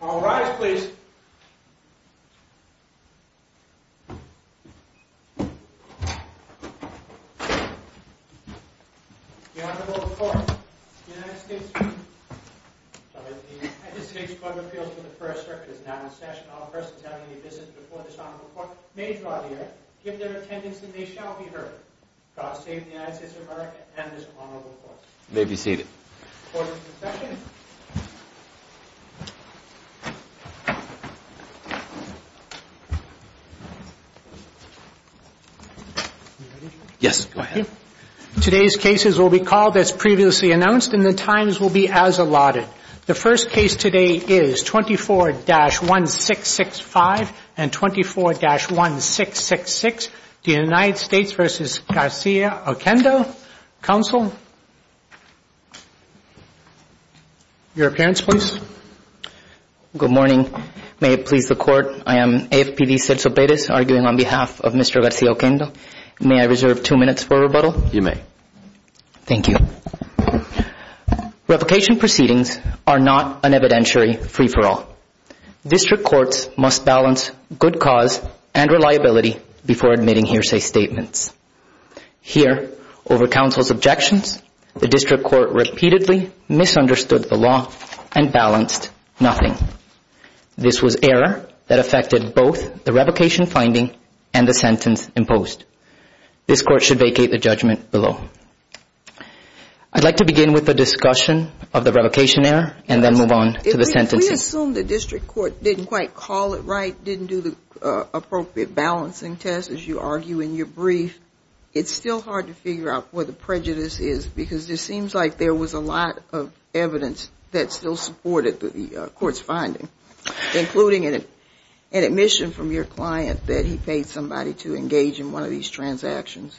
All rise, please. The Honorable Court, the United States Court of Appeals for the First Circuit is now in All persons having a visit before this Honorable Court may draw near, give their attendance, and they shall be heard. God save the United States of America and this Honorable Court. You may be seated. Court is in session. Yes, go ahead. Today's cases will be called as previously announced and the times will be as allotted. The first case today is 24-1665 and 24-1666, the United States v. Garcia-Oquendo. Counsel, your appearance, please. Good morning. May it please the Court, I am AFPB Celso Perez arguing on behalf of Mr. Garcia-Oquendo. May I reserve two minutes for rebuttal? You may. Thank you. Revocation proceedings are not an evidentiary free-for-all. District courts must balance good cause and reliability before admitting hearsay statements. Here, over counsel's objections, the district court repeatedly misunderstood the law and balanced nothing. This was error that affected both the revocation finding and the sentence imposed. This Court should vacate the judgment below. I'd like to begin with the discussion of the revocation error and then move on to the sentencing. If we assume the district court didn't quite call it right, didn't do the appropriate balancing test, as you argue in your brief, it's still hard to figure out where the prejudice is because it seems like there was a lot of evidence that still supported the court's finding, including an admission from your client that he paid somebody to engage in one of these transactions.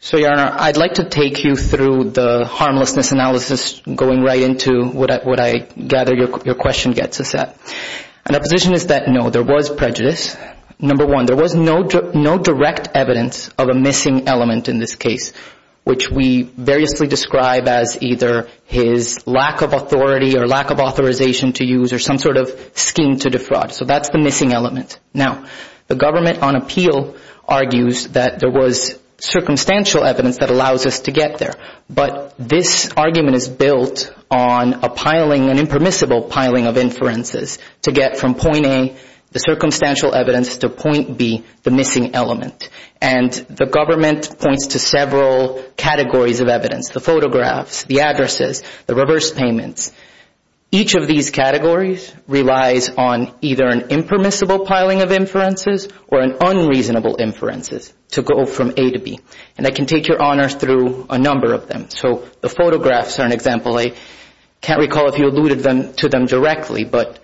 So, Your Honor, I'd like to take you through the harmlessness analysis going right into what I gather your question gets us at. And our position is that, no, there was prejudice. Number one, there was no direct evidence of a missing element in this case, which we variously describe as either his lack of authority or lack of authorization to use or some sort of scheme to defraud. So that's the missing element. Now, the government on appeal argues that there was circumstantial evidence that allows us to get there. But this argument is built on a piling, an impermissible piling of inferences to get from point A, the circumstantial evidence, to point B, the missing element. And the government points to several categories of evidence, the photographs, the addresses, the reverse payments. Each of these categories relies on either an impermissible piling of inferences or an unreasonable inferences to go from A to B. And I can take Your Honor through a number of them. So the photographs are an example. I can't recall if you alluded to them directly, but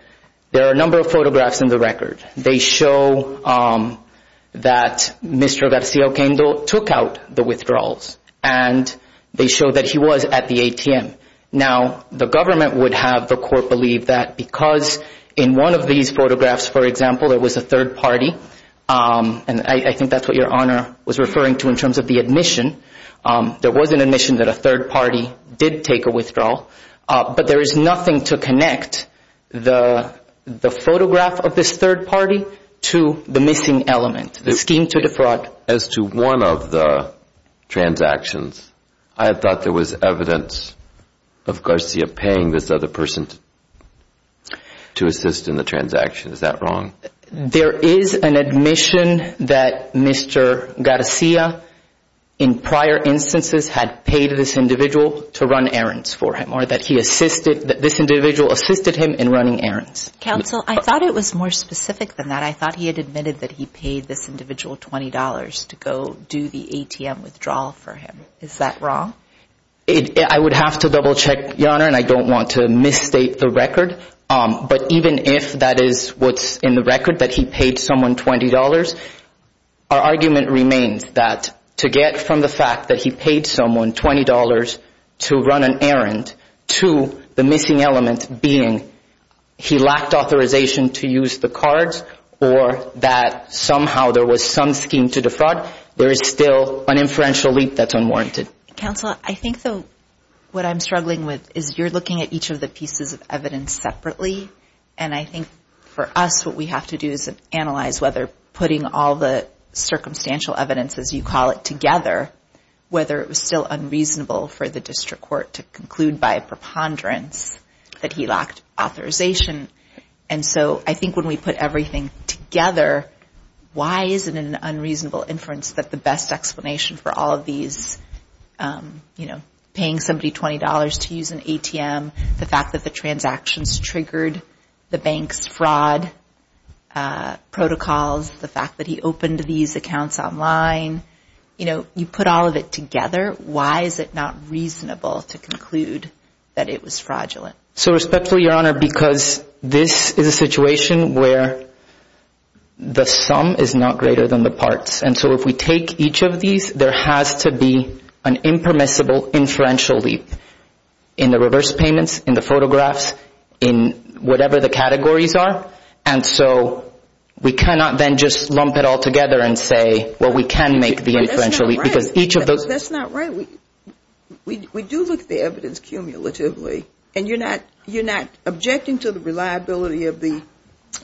there are a number of photographs in the record. They show that Mr. Garcia Oquendo took out the withdrawals. And they show that he was at the ATM. Now, the government would have the court believe that because in one of these photographs, for example, there was a third party, and I think that's what Your Honor was referring to in terms of the admission. There was an admission that a third party did take a withdrawal. But there is nothing to connect the photograph of this third party to the missing element, the scheme to defraud. As to one of the transactions, I thought there was evidence of Garcia paying this other person to assist in the transaction. Is that wrong? There is an admission that Mr. Garcia, in prior instances, had paid this individual to run errands for him, or that this individual assisted him in running errands. Counsel, I thought it was more specific than that. I thought he had admitted that he paid this individual $20 to go do the ATM withdrawal for him. Is that wrong? I would have to double-check, Your Honor, and I don't want to misstate the record. But even if that is what's in the record, that he paid someone $20, our argument remains that to get from the fact that he paid someone $20 to run an errand to the missing element being he lacked authorization to use the cards, or that somehow there was some scheme to defraud, there is still an inferential leap that's unwarranted. Counsel, I think, though, what I'm struggling with is you're looking at each of the pieces of evidence separately, and I think for us what we have to do is analyze whether putting all the circumstantial evidence, as you call it, together, whether it was still unreasonable for the district court to conclude by a preponderance that he lacked authorization. And so I think when we put everything together, why is it an unreasonable inference that the best explanation for all of these, you know, paying somebody $20 to use an ATM, the fact that the transactions triggered the bank's fraud protocols, the fact that he opened these accounts online, you know, you put all of it together, why is it not reasonable to conclude that it was fraudulent? So respectfully, Your Honor, because this is a situation where the sum is not greater than the parts, and so if we take each of these, there has to be an impermissible inferential leap. In the reverse payments, in the photographs, in whatever the categories are. And so we cannot then just lump it all together and say, well, we can make the inferential leap, because each of those. That's not right. We do look at the evidence cumulatively, and you're not objecting to the reliability of the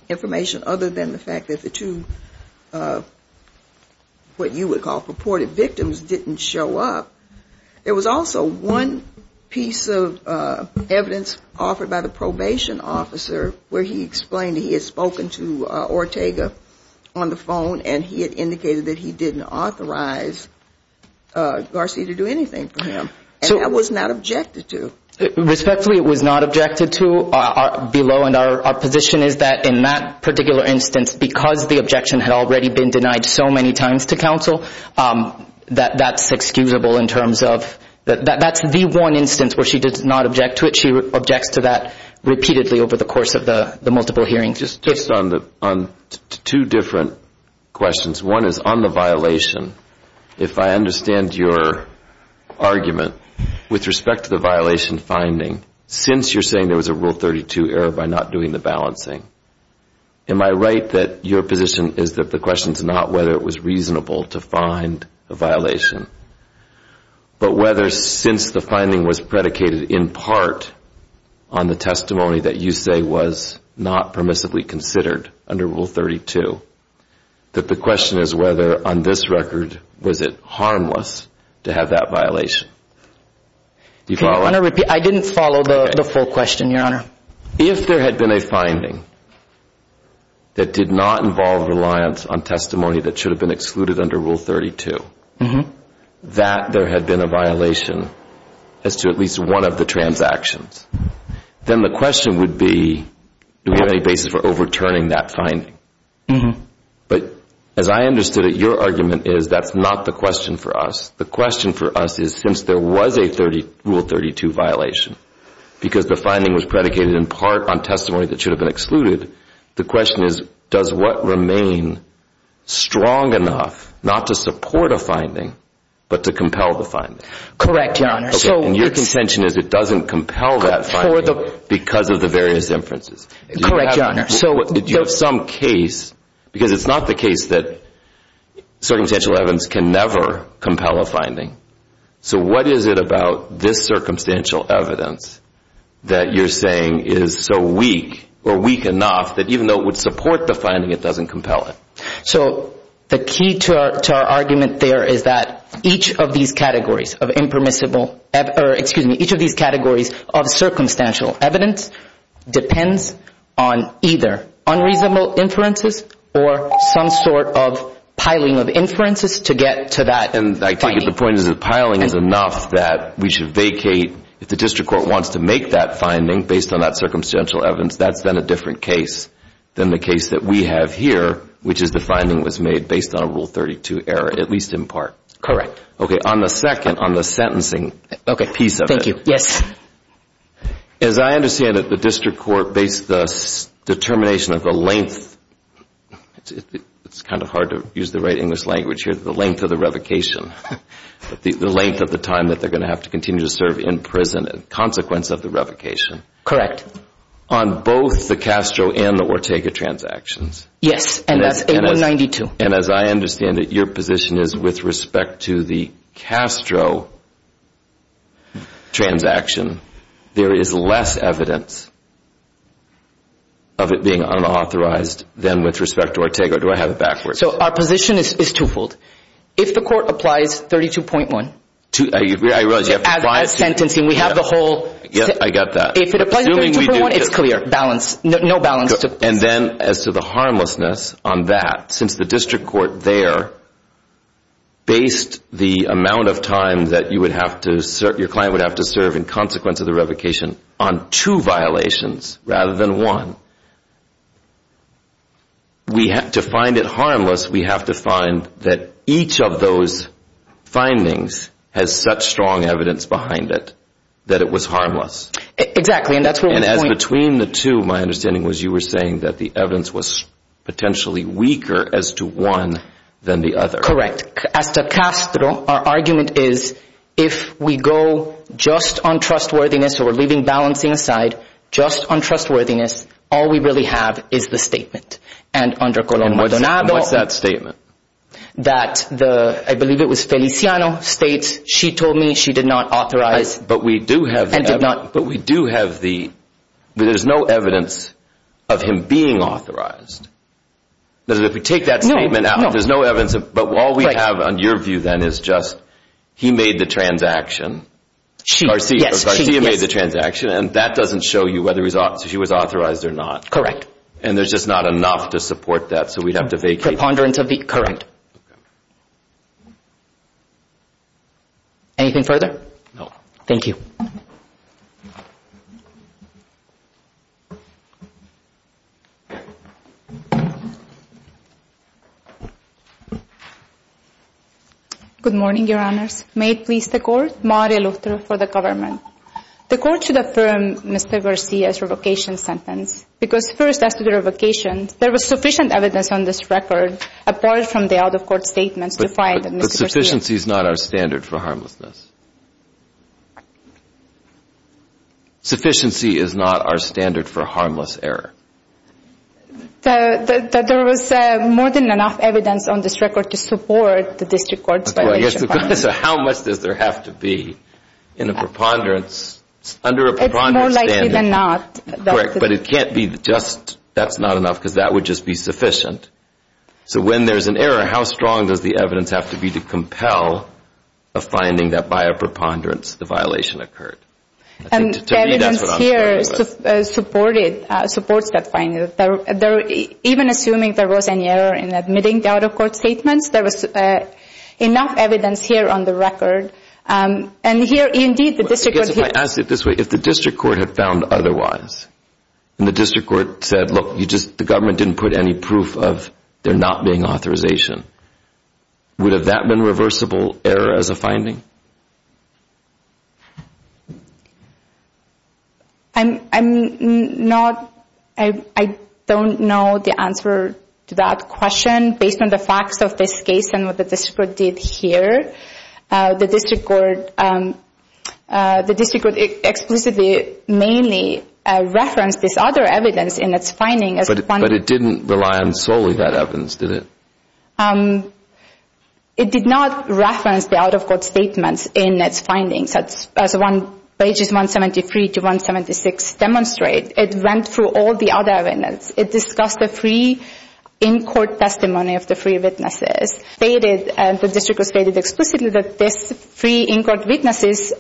information other than the fact that the two what you would call purported victims didn't show up. There was also one piece of evidence offered by the probation officer where he explained he had spoken to Ortega on the phone, and he had indicated that he didn't authorize Garcia to do anything for him. And that was not objected to. Respectfully, it was not objected to below, and our position is that in that particular instance, because the objection had already been denied so many times to counsel, that's inexcusable in terms of that's the one instance where she did not object to it. She objects to that repeatedly over the course of the multiple hearings. Just on two different questions. One is on the violation. If I understand your argument with respect to the violation finding, since you're saying there was a Rule 32 error by not doing the balancing, am I right that your position is that the question is not whether it was reasonable to find a violation, but whether since the finding was predicated in part on the testimony that you say was not permissibly considered under Rule 32, that the question is whether on this record was it harmless to have that violation? Do you follow? I didn't follow the full question, Your Honor. If there had been a finding that did not involve reliance on testimony that should have been excluded under Rule 32, that there had been a violation as to at least one of the transactions, then the question would be do we have any basis for overturning that finding. But as I understood it, your argument is that's not the question for us. The question for us is since there was a Rule 32 violation because the finding was predicated in part on testimony that should have been excluded, the question is does what remain strong enough not to support a finding but to compel the finding. Correct, Your Honor. And your contention is it doesn't compel that finding because of the various inferences. Correct, Your Honor. So if you have some case, because it's not the case that circumstantial evidence can never compel a finding, so what is it about this circumstantial evidence that you're saying is so weak or weak enough that even though it would support the finding, it doesn't compel it? So the key to our argument there is that each of these categories of impermissible, excuse me, each of these categories of circumstantial evidence depends on either unreasonable inferences or some sort of piling of inferences to get to that finding. And I take it the point is that piling is enough that we should vacate if the district court wants to make that finding based on that circumstantial evidence, that's then a different case than the case that we have here, which is the finding was made based on a Rule 32 error, at least in part. Correct. Okay. On the second, on the sentencing piece of it. Thank you. Yes. As I understand it, the district court based the determination of the length, it's kind of hard to use the right English language here, the length of the revocation, the length of the time that they're going to have to continue to serve in prison as a consequence of the revocation. Correct. On both the Castro and the Ortega transactions. Yes, and that's 8192. And as I understand it, your position is with respect to the Castro transaction, there is less evidence of it being unauthorized than with respect to Ortega. Do I have it backwards? So our position is twofold. If the court applies 32.1. I realize you have to apply it. As a sentencing, we have the whole. I got that. If it applies 32.1, it's clear, no balance. And then as to the harmlessness on that, since the district court there based the amount of time that your client would have to serve in consequence of the revocation on two violations rather than one, to find it harmless, we have to find that each of those findings has such strong evidence behind it that it was harmless. Exactly. And as between the two, my understanding was you were saying that the evidence was potentially weaker as to one than the other. As to Castro, our argument is if we go just on trustworthiness or leaving balancing aside just on trustworthiness, all we really have is the statement. And what's that statement? That the, I believe it was Feliciano, states she told me she did not authorize. But we do have the evidence. And did not. But we do have the, there's no evidence of him being authorized. If we take that statement out, there's no evidence. But all we have on your view then is just he made the transaction. She, yes. Garcia made the transaction, and that doesn't show you whether she was authorized or not. Correct. And there's just not enough to support that, so we'd have to vacate. Preponderance of the, correct. Okay. Anything further? No. Thank you. Good morning, Your Honors. May it please the Court. Maria Lutra for the Government. The Court should affirm Mr. Garcia's revocation sentence because first, as to the revocation, there was sufficient evidence on this record, apart from the out-of-court statements, to find that Mr. Garcia But sufficiency is not our standard for harmlessness. Sufficiency is not our standard for harmless error. There was more than enough evidence on this record to support this record. So how much does there have to be in a preponderance, under a preponderance standard? It's more likely than not. Correct. But it can't be just that's not enough because that would just be sufficient. So when there's an error, how strong does the evidence have to be to compel a finding that, by a preponderance, the violation occurred? And the evidence here supports that finding. Even assuming there was an error in admitting the out-of-court statements, there was enough evidence here on the record. And here, indeed, the District Court here If I ask it this way, if the District Court had found otherwise, and the District Court said, look, the government didn't put any proof of there not being authorization, would that have been reversible error as a finding? I don't know the answer to that question. Based on the facts of this case and what the District Court did here, the District Court explicitly mainly referenced this other evidence in its findings. But it didn't rely solely on that evidence, did it? It did not reference the out-of-court statements in its findings. As pages 173 to 176 demonstrate, it went through all the other evidence. It discussed the free in-court testimony of the free witnesses. The District Court stated explicitly that these free in-court witnesses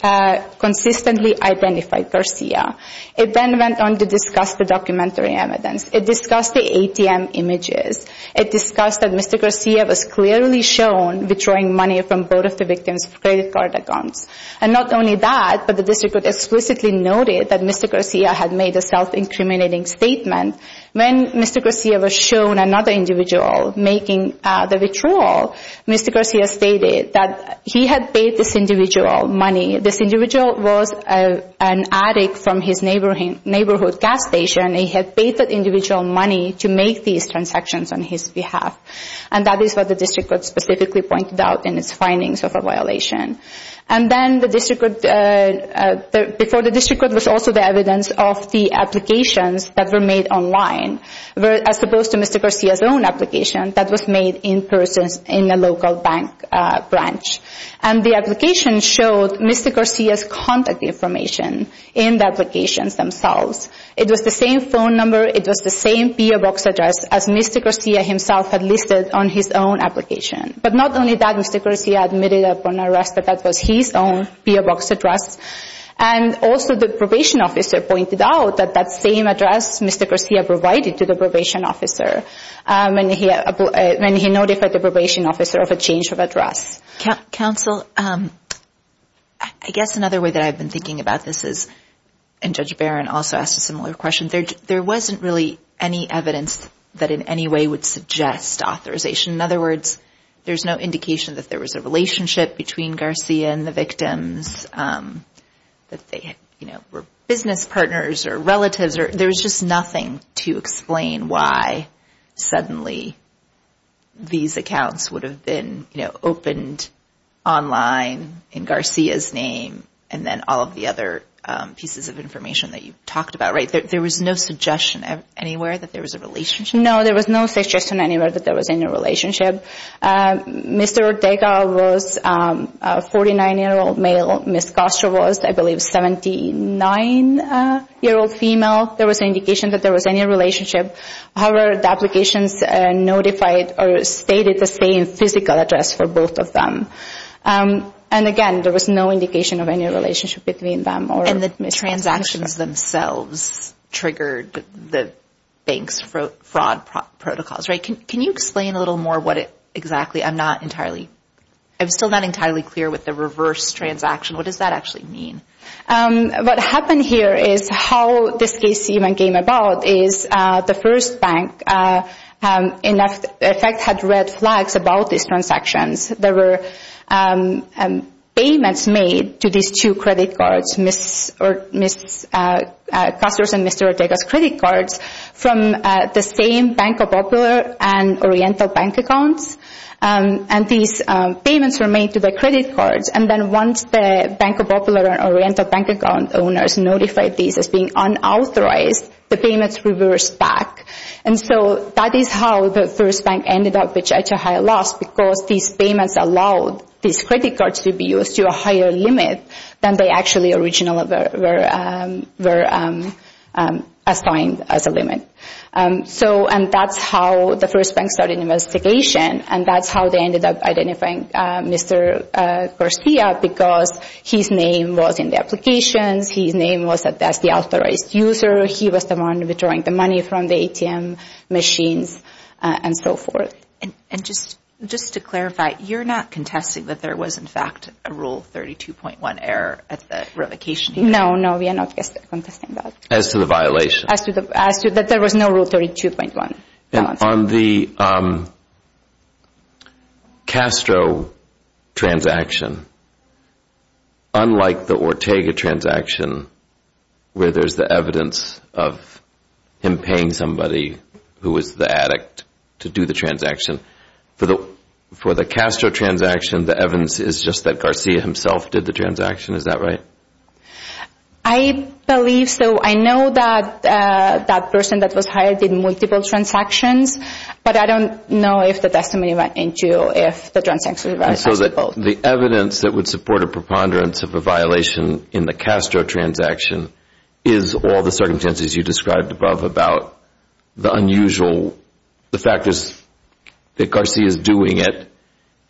consistently identified Garcia. It then went on to discuss the documentary evidence. It discussed the ATM images. It discussed that Mr. Garcia was clearly shown withdrawing money from both of the victims' credit card accounts. And not only that, but the District Court explicitly noted that Mr. Garcia had made a self-incriminating statement. When Mr. Garcia was shown another individual making the withdrawal, Mr. Garcia stated that he had paid this individual money. This individual was an addict from his neighborhood gas station. He had paid that individual money to make these transactions on his behalf. And that is what the District Court specifically pointed out in its findings of a violation. And then, before the District Court was also the evidence of the applications that were made online, as opposed to Mr. Garcia's own application that was made in person in a local bank branch. And the application showed Mr. Garcia's contact information in the applications themselves. It was the same phone number. It was the same P.O. box address as Mr. Garcia himself had listed on his own application. But not only that, Mr. Garcia admitted upon arrest that that was his own P.O. box address. And also the probation officer pointed out that that same address Mr. Garcia provided to the probation officer when he notified the probation officer of a change of address. Counsel, I guess another way that I've been thinking about this is, and Judge Barron also asked a similar question, there wasn't really any evidence that in any way would suggest authorization. In other words, there's no indication that there was a relationship between Garcia and the victims, that they were business partners or relatives. There was just nothing to explain why suddenly these accounts would have been opened online in Garcia's name and then all of the other pieces of information that you talked about. There was no suggestion anywhere that there was a relationship? No, there was no suggestion anywhere that there was any relationship. Mr. Ortega was a 49-year-old male. Ms. Castro was, I believe, a 79-year-old female. There was an indication that there was any relationship. However, the applications notified or stated the same physical address for both of them. And again, there was no indication of any relationship between them or Ms. Castro. The transactions themselves triggered the bank's fraud protocols, right? Can you explain a little more what exactly? I'm still not entirely clear with the reverse transaction. What does that actually mean? What happened here is how this case even came about is the first bank, in effect, had red flags about these transactions. There were payments made to these two credit cards, Ms. Castro's and Mr. Ortega's credit cards, from the same Banco Popular and Oriental Bank accounts. And these payments were made to the credit cards. And then once the Banco Popular and Oriental Bank account owners notified these as being unauthorized, the payments reversed back. And so that is how the first bank ended up with such a high loss because these payments allowed these credit cards to be used to a higher limit than they actually originally were assigned as a limit. And that's how the first bank started an investigation, and that's how they ended up identifying Mr. Garcia because his name was in the applications, his name was the authorized user, he was the one withdrawing the money from the ATM machines, and so forth. And just to clarify, you're not contesting that there was, in fact, a Rule 32.1 error at the revocation? No, no, we are not contesting that. As to the violation? As to that there was no Rule 32.1. And on the Castro transaction, unlike the Ortega transaction, where there's the evidence of him paying somebody who was the addict to do the transaction, for the Castro transaction the evidence is just that Garcia himself did the transaction, is that right? I believe so. I know that that person that was hired did multiple transactions, but I don't know if the testimony went into if the transactions were actually both. So the evidence that would support a preponderance of a violation in the Castro transaction is all the circumstances you described above about the unusual, the factors that Garcia is doing it,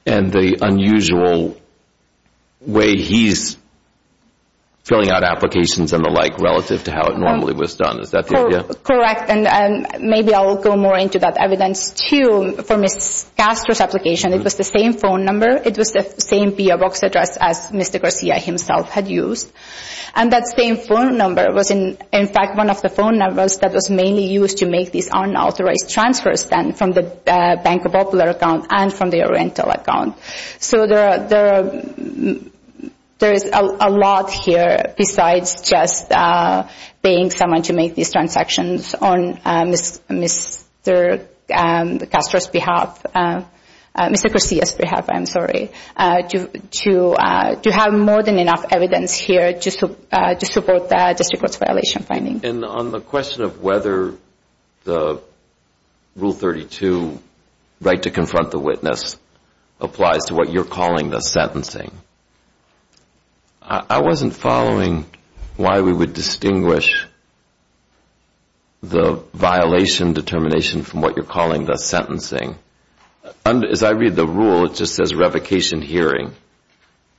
and the unusual way he's filling out applications and the like relative to how it normally was done. Is that the idea? Correct, and maybe I'll go more into that evidence too. For Ms. Castro's application, it was the same phone number, it was the same P.O. Box address as Mr. Garcia himself had used. And that same phone number was in fact one of the phone numbers that was mainly used to make these unauthorized transfers from the Banco Popular account and from the Oriental account. So there is a lot here besides just paying someone to make these transactions on Mr. Castro's behalf, Mr. Garcia's behalf, I'm sorry, to have more than enough evidence here to support the district court's violation finding. And on the question of whether the Rule 32 right to confront the witness applies to what you're calling the sentencing, I wasn't following why we would distinguish the violation determination from what you're calling the sentencing. As I read the Rule, it just says revocation hearing,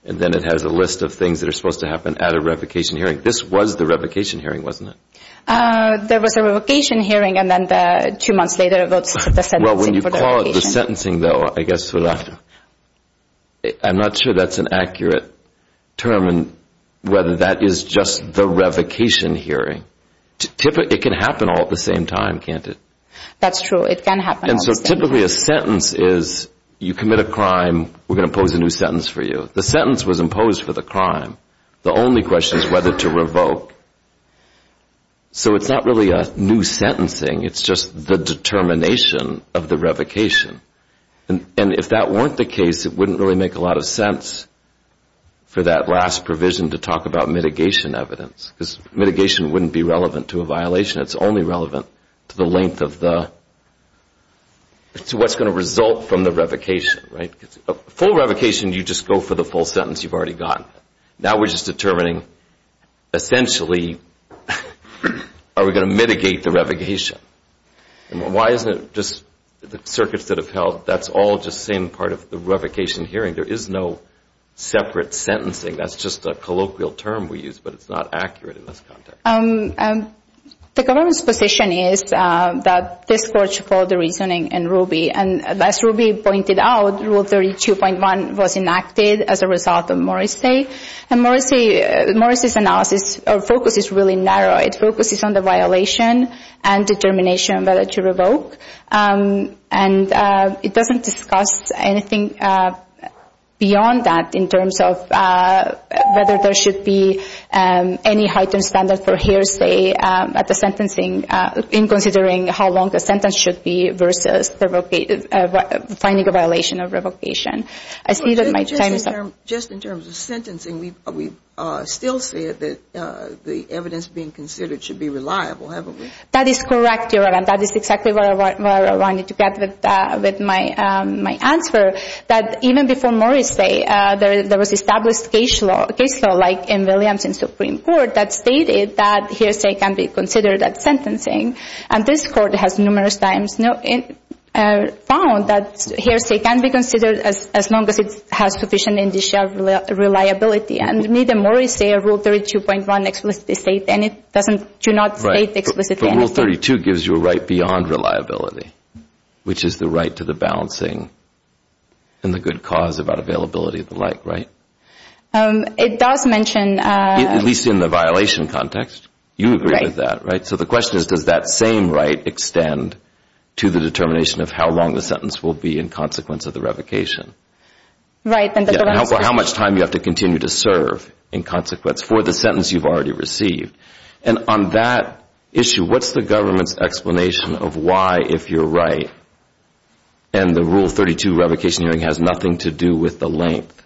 and then it has a list of things that are supposed to happen at a revocation hearing. This was the revocation hearing, wasn't it? There was a revocation hearing, and then two months later, that's the sentencing for the revocation. Well, when you call it the sentencing, though, I'm not sure that's an accurate term and whether that is just the revocation hearing. It can happen all at the same time, can't it? That's true. It can happen all at the same time. And so typically a sentence is you commit a crime, we're going to impose a new sentence for you. The sentence was imposed for the crime. The only question is whether to revoke. So it's not really a new sentencing. It's just the determination of the revocation. And if that weren't the case, it wouldn't really make a lot of sense for that last provision to talk about mitigation evidence. Because mitigation wouldn't be relevant to a violation. It's only relevant to what's going to result from the revocation. A full revocation, you just go for the full sentence you've already gotten. Now we're just determining, essentially, are we going to mitigate the revocation? Why isn't it just the circuits that have held, that's all just the same part of the revocation hearing? There is no separate sentencing. That's just a colloquial term we use, but it's not accurate in this context. The government's position is that this court should follow the reasoning in Ruby. And as Ruby pointed out, Rule 32.1 was enacted as a result of Morrissey. And Morrissey's analysis or focus is really narrow. It focuses on the violation and determination whether to revoke. And it doesn't discuss anything beyond that in terms of whether there should be any heightened standard for hearsay at the sentencing in considering how long the sentence should be versus finding a violation of revocation. I see that my time is up. Just in terms of sentencing, we've still said that the evidence being considered should be reliable, haven't we? That is correct, Your Honor. That is exactly what I wanted to get with my answer. Even before Morrissey, there was established case law, like in Williams in Supreme Court, that stated that hearsay can be considered at sentencing. And this court has numerous times found that hearsay can be considered as long as it has sufficient initial reliability. And neither Morrissey or Rule 32.1 explicitly state, and it does not state explicitly anything. Rule 32 gives you a right beyond reliability, which is the right to the balancing and the good cause about availability and the like, right? It does mention... At least in the violation context. You agree with that, right? So the question is, does that same right extend to the determination of how long the sentence will be in consequence of the revocation? Right. How much time you have to continue to serve in consequence for the sentence you've already received. And on that issue, what's the government's explanation of why, if you're right, and the Rule 32 revocation hearing has nothing to do with the length,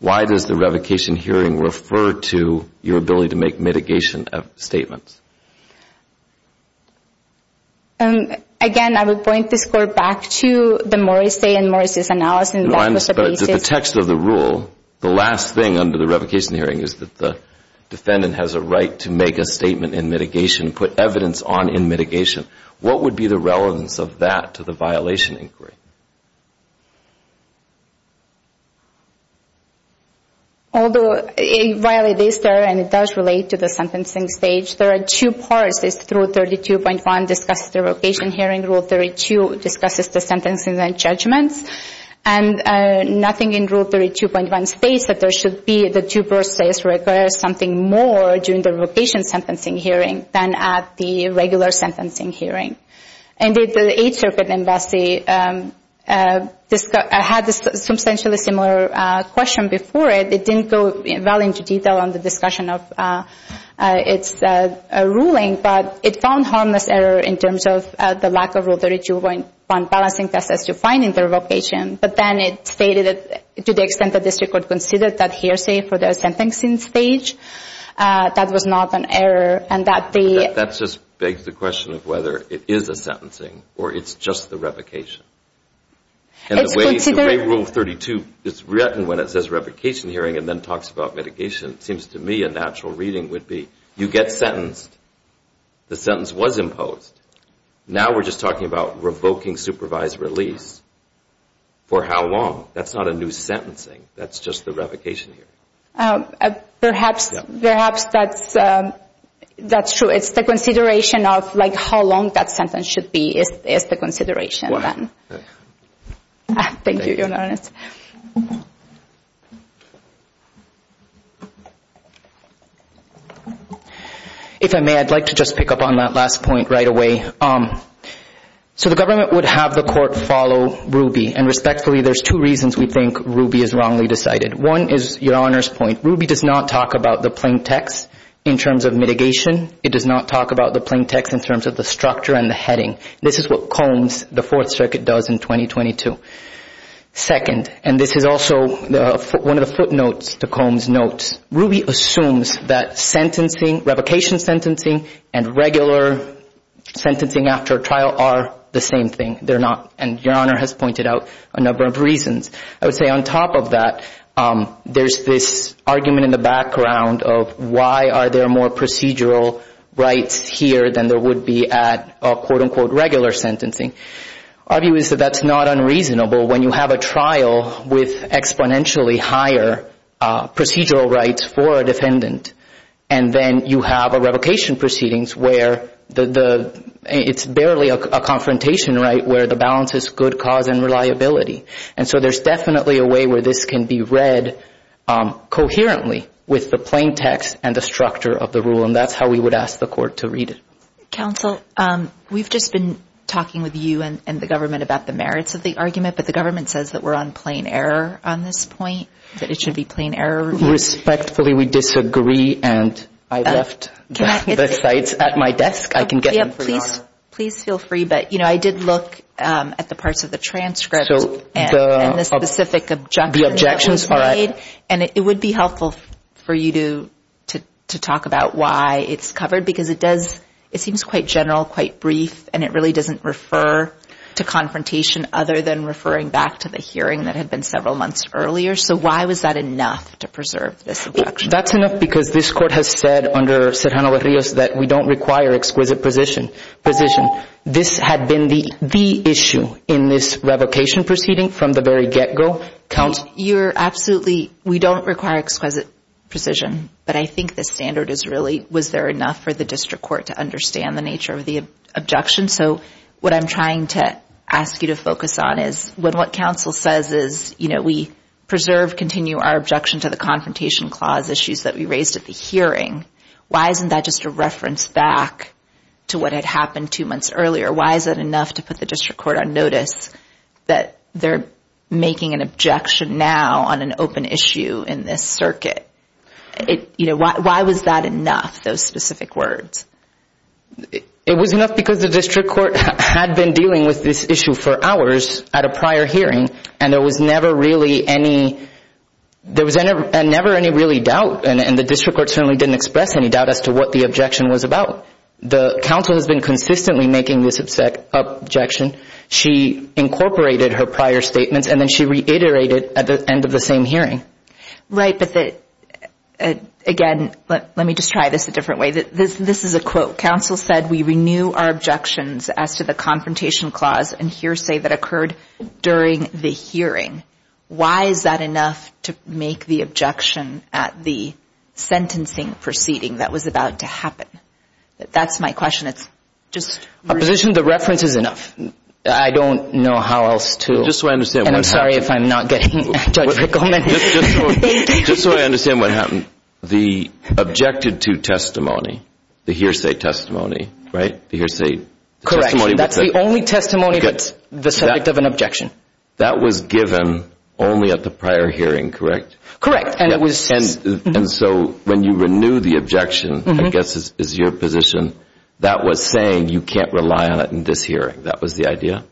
why does the revocation hearing refer to your ability to make mitigation statements? Again, I would point this court back to the Morrissey and Morrissey's analysis. The text of the rule, the last thing under the revocation hearing is that the defendant has a right to make a statement in mitigation, put evidence on in mitigation. What would be the relevance of that to the violation inquiry? Although, while it is there and it does relate to the sentencing stage, there are two parts through 32.1 discusses the revocation hearing, and Rule 32 discusses the sentencing and judgments. And nothing in Rule 32.1 states that there should be the two parts that require something more during the revocation sentencing hearing than at the regular sentencing hearing. Indeed, the Eighth Circuit Embassy had a substantially similar question before it. It didn't go well into detail on the discussion of its ruling, but it found harmless error in terms of the lack of Rule 32.1 balancing test as to finding the revocation, but then it stated to the extent that this record considered that hearsay for the sentencing stage, that was not an error. That just begs the question of whether it is a sentencing or it's just the revocation. And the way Rule 32 is written when it says revocation hearing and then talks about mitigation, it seems to me a natural reading would be you get sentenced. The sentence was imposed. Now we're just talking about revoking supervised release. For how long? That's not a new sentencing. That's just the revocation hearing. Perhaps that's true. It's the consideration of like how long that sentence should be is the consideration then. Thank you, Your Honor. If I may, I'd like to just pick up on that last point right away. So the government would have the court follow Ruby, and respectfully, there's two reasons we think Ruby is wrongly decided. One is Your Honor's point. Ruby does not talk about the plain text in terms of mitigation. It does not talk about the plain text in terms of the structure and the heading. This is what Combs, the Fourth Circuit, does in 2022. Second, and this is also one of the footnotes to Combs' notes, Ruby assumes that sentencing, revocation sentencing, and regular sentencing after a trial are the same thing. They're not. And Your Honor has pointed out a number of reasons. I would say on top of that, there's this argument in the background of why are there more procedural rights here than there would be at quote-unquote regular sentencing. Our view is that that's not unreasonable when you have a trial with exponentially higher procedural rights for a defendant, and then you have a revocation proceedings where it's barely a confrontation right where the balance is good cause and reliability. And so there's definitely a way where this can be read coherently with the plain text and the structure of the rule, and that's how we would ask the court to read it. Counsel, we've just been talking with you and the government about the merits of the argument, but the government says that we're on plain error on this point, that it should be plain error. Respectfully, we disagree, and I left the sites at my desk. I can get them for Your Honor. Please feel free, but, you know, I did look at the parts of the transcript. And the specific objection that was made, and it would be helpful for you to talk about why it's covered, because it seems quite general, quite brief, and it really doesn't refer to confrontation other than referring back to the hearing that had been several months earlier. So why was that enough to preserve this objection? That's enough because this court has said under Serrano-Rios that we don't require exquisite precision. This had been the issue in this revocation proceeding from the very get-go. Counsel? You're absolutely, we don't require exquisite precision, but I think the standard is really, was there enough for the district court to understand the nature of the objection? So what I'm trying to ask you to focus on is when what counsel says is, you know, we preserve, continue our objection to the confrontation clause issues that we raised at the hearing, why isn't that just a reference back to what had happened two months earlier? Why is that enough to put the district court on notice that they're making an objection now on an open issue in this circuit? You know, why was that enough, those specific words? It was enough because the district court had been dealing with this issue for hours at a prior hearing, and there was never really any, there was never any really doubt, and the district court certainly didn't express any doubt as to what the objection was about. The counsel has been consistently making this objection. She incorporated her prior statements, and then she reiterated at the end of the same hearing. Right, but again, let me just try this a different way. This is a quote. Counsel said we renew our objections as to the confrontation clause and hearsay that occurred during the hearing. Why is that enough to make the objection at the sentencing proceeding that was about to happen? That's my question. Opposition, the reference is enough. I don't know how else to, and I'm sorry if I'm not getting Judge Rickleman. Just so I understand what happened. The objected to testimony, the hearsay testimony, right, the hearsay testimony. Correct. That's the only testimony that's the subject of an objection. That was given only at the prior hearing, correct? And so when you renew the objection, I guess is your position, that was saying you can't rely on it in this hearing. That was the idea?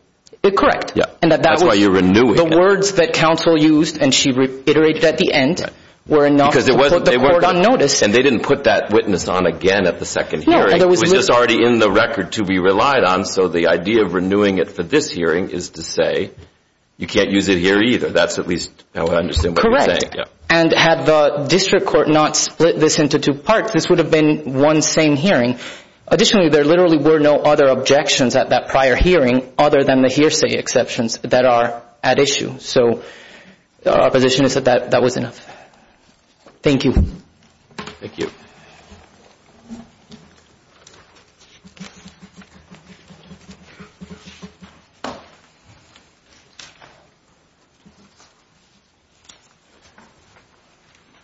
Correct. That's why you're renewing it. The words that counsel used and she reiterated at the end were enough to put the court on notice. And they didn't put that witness on again at the second hearing. It was just already in the record to be relied on, so the idea of renewing it for this hearing is to say you can't use it here either. That's at least how I understand what you're saying. And had the district court not split this into two parts, this would have been one same hearing. Additionally, there literally were no other objections at that prior hearing other than the hearsay exceptions that are at issue. So our position is that that was enough. Thank you. Thank you. Thank you.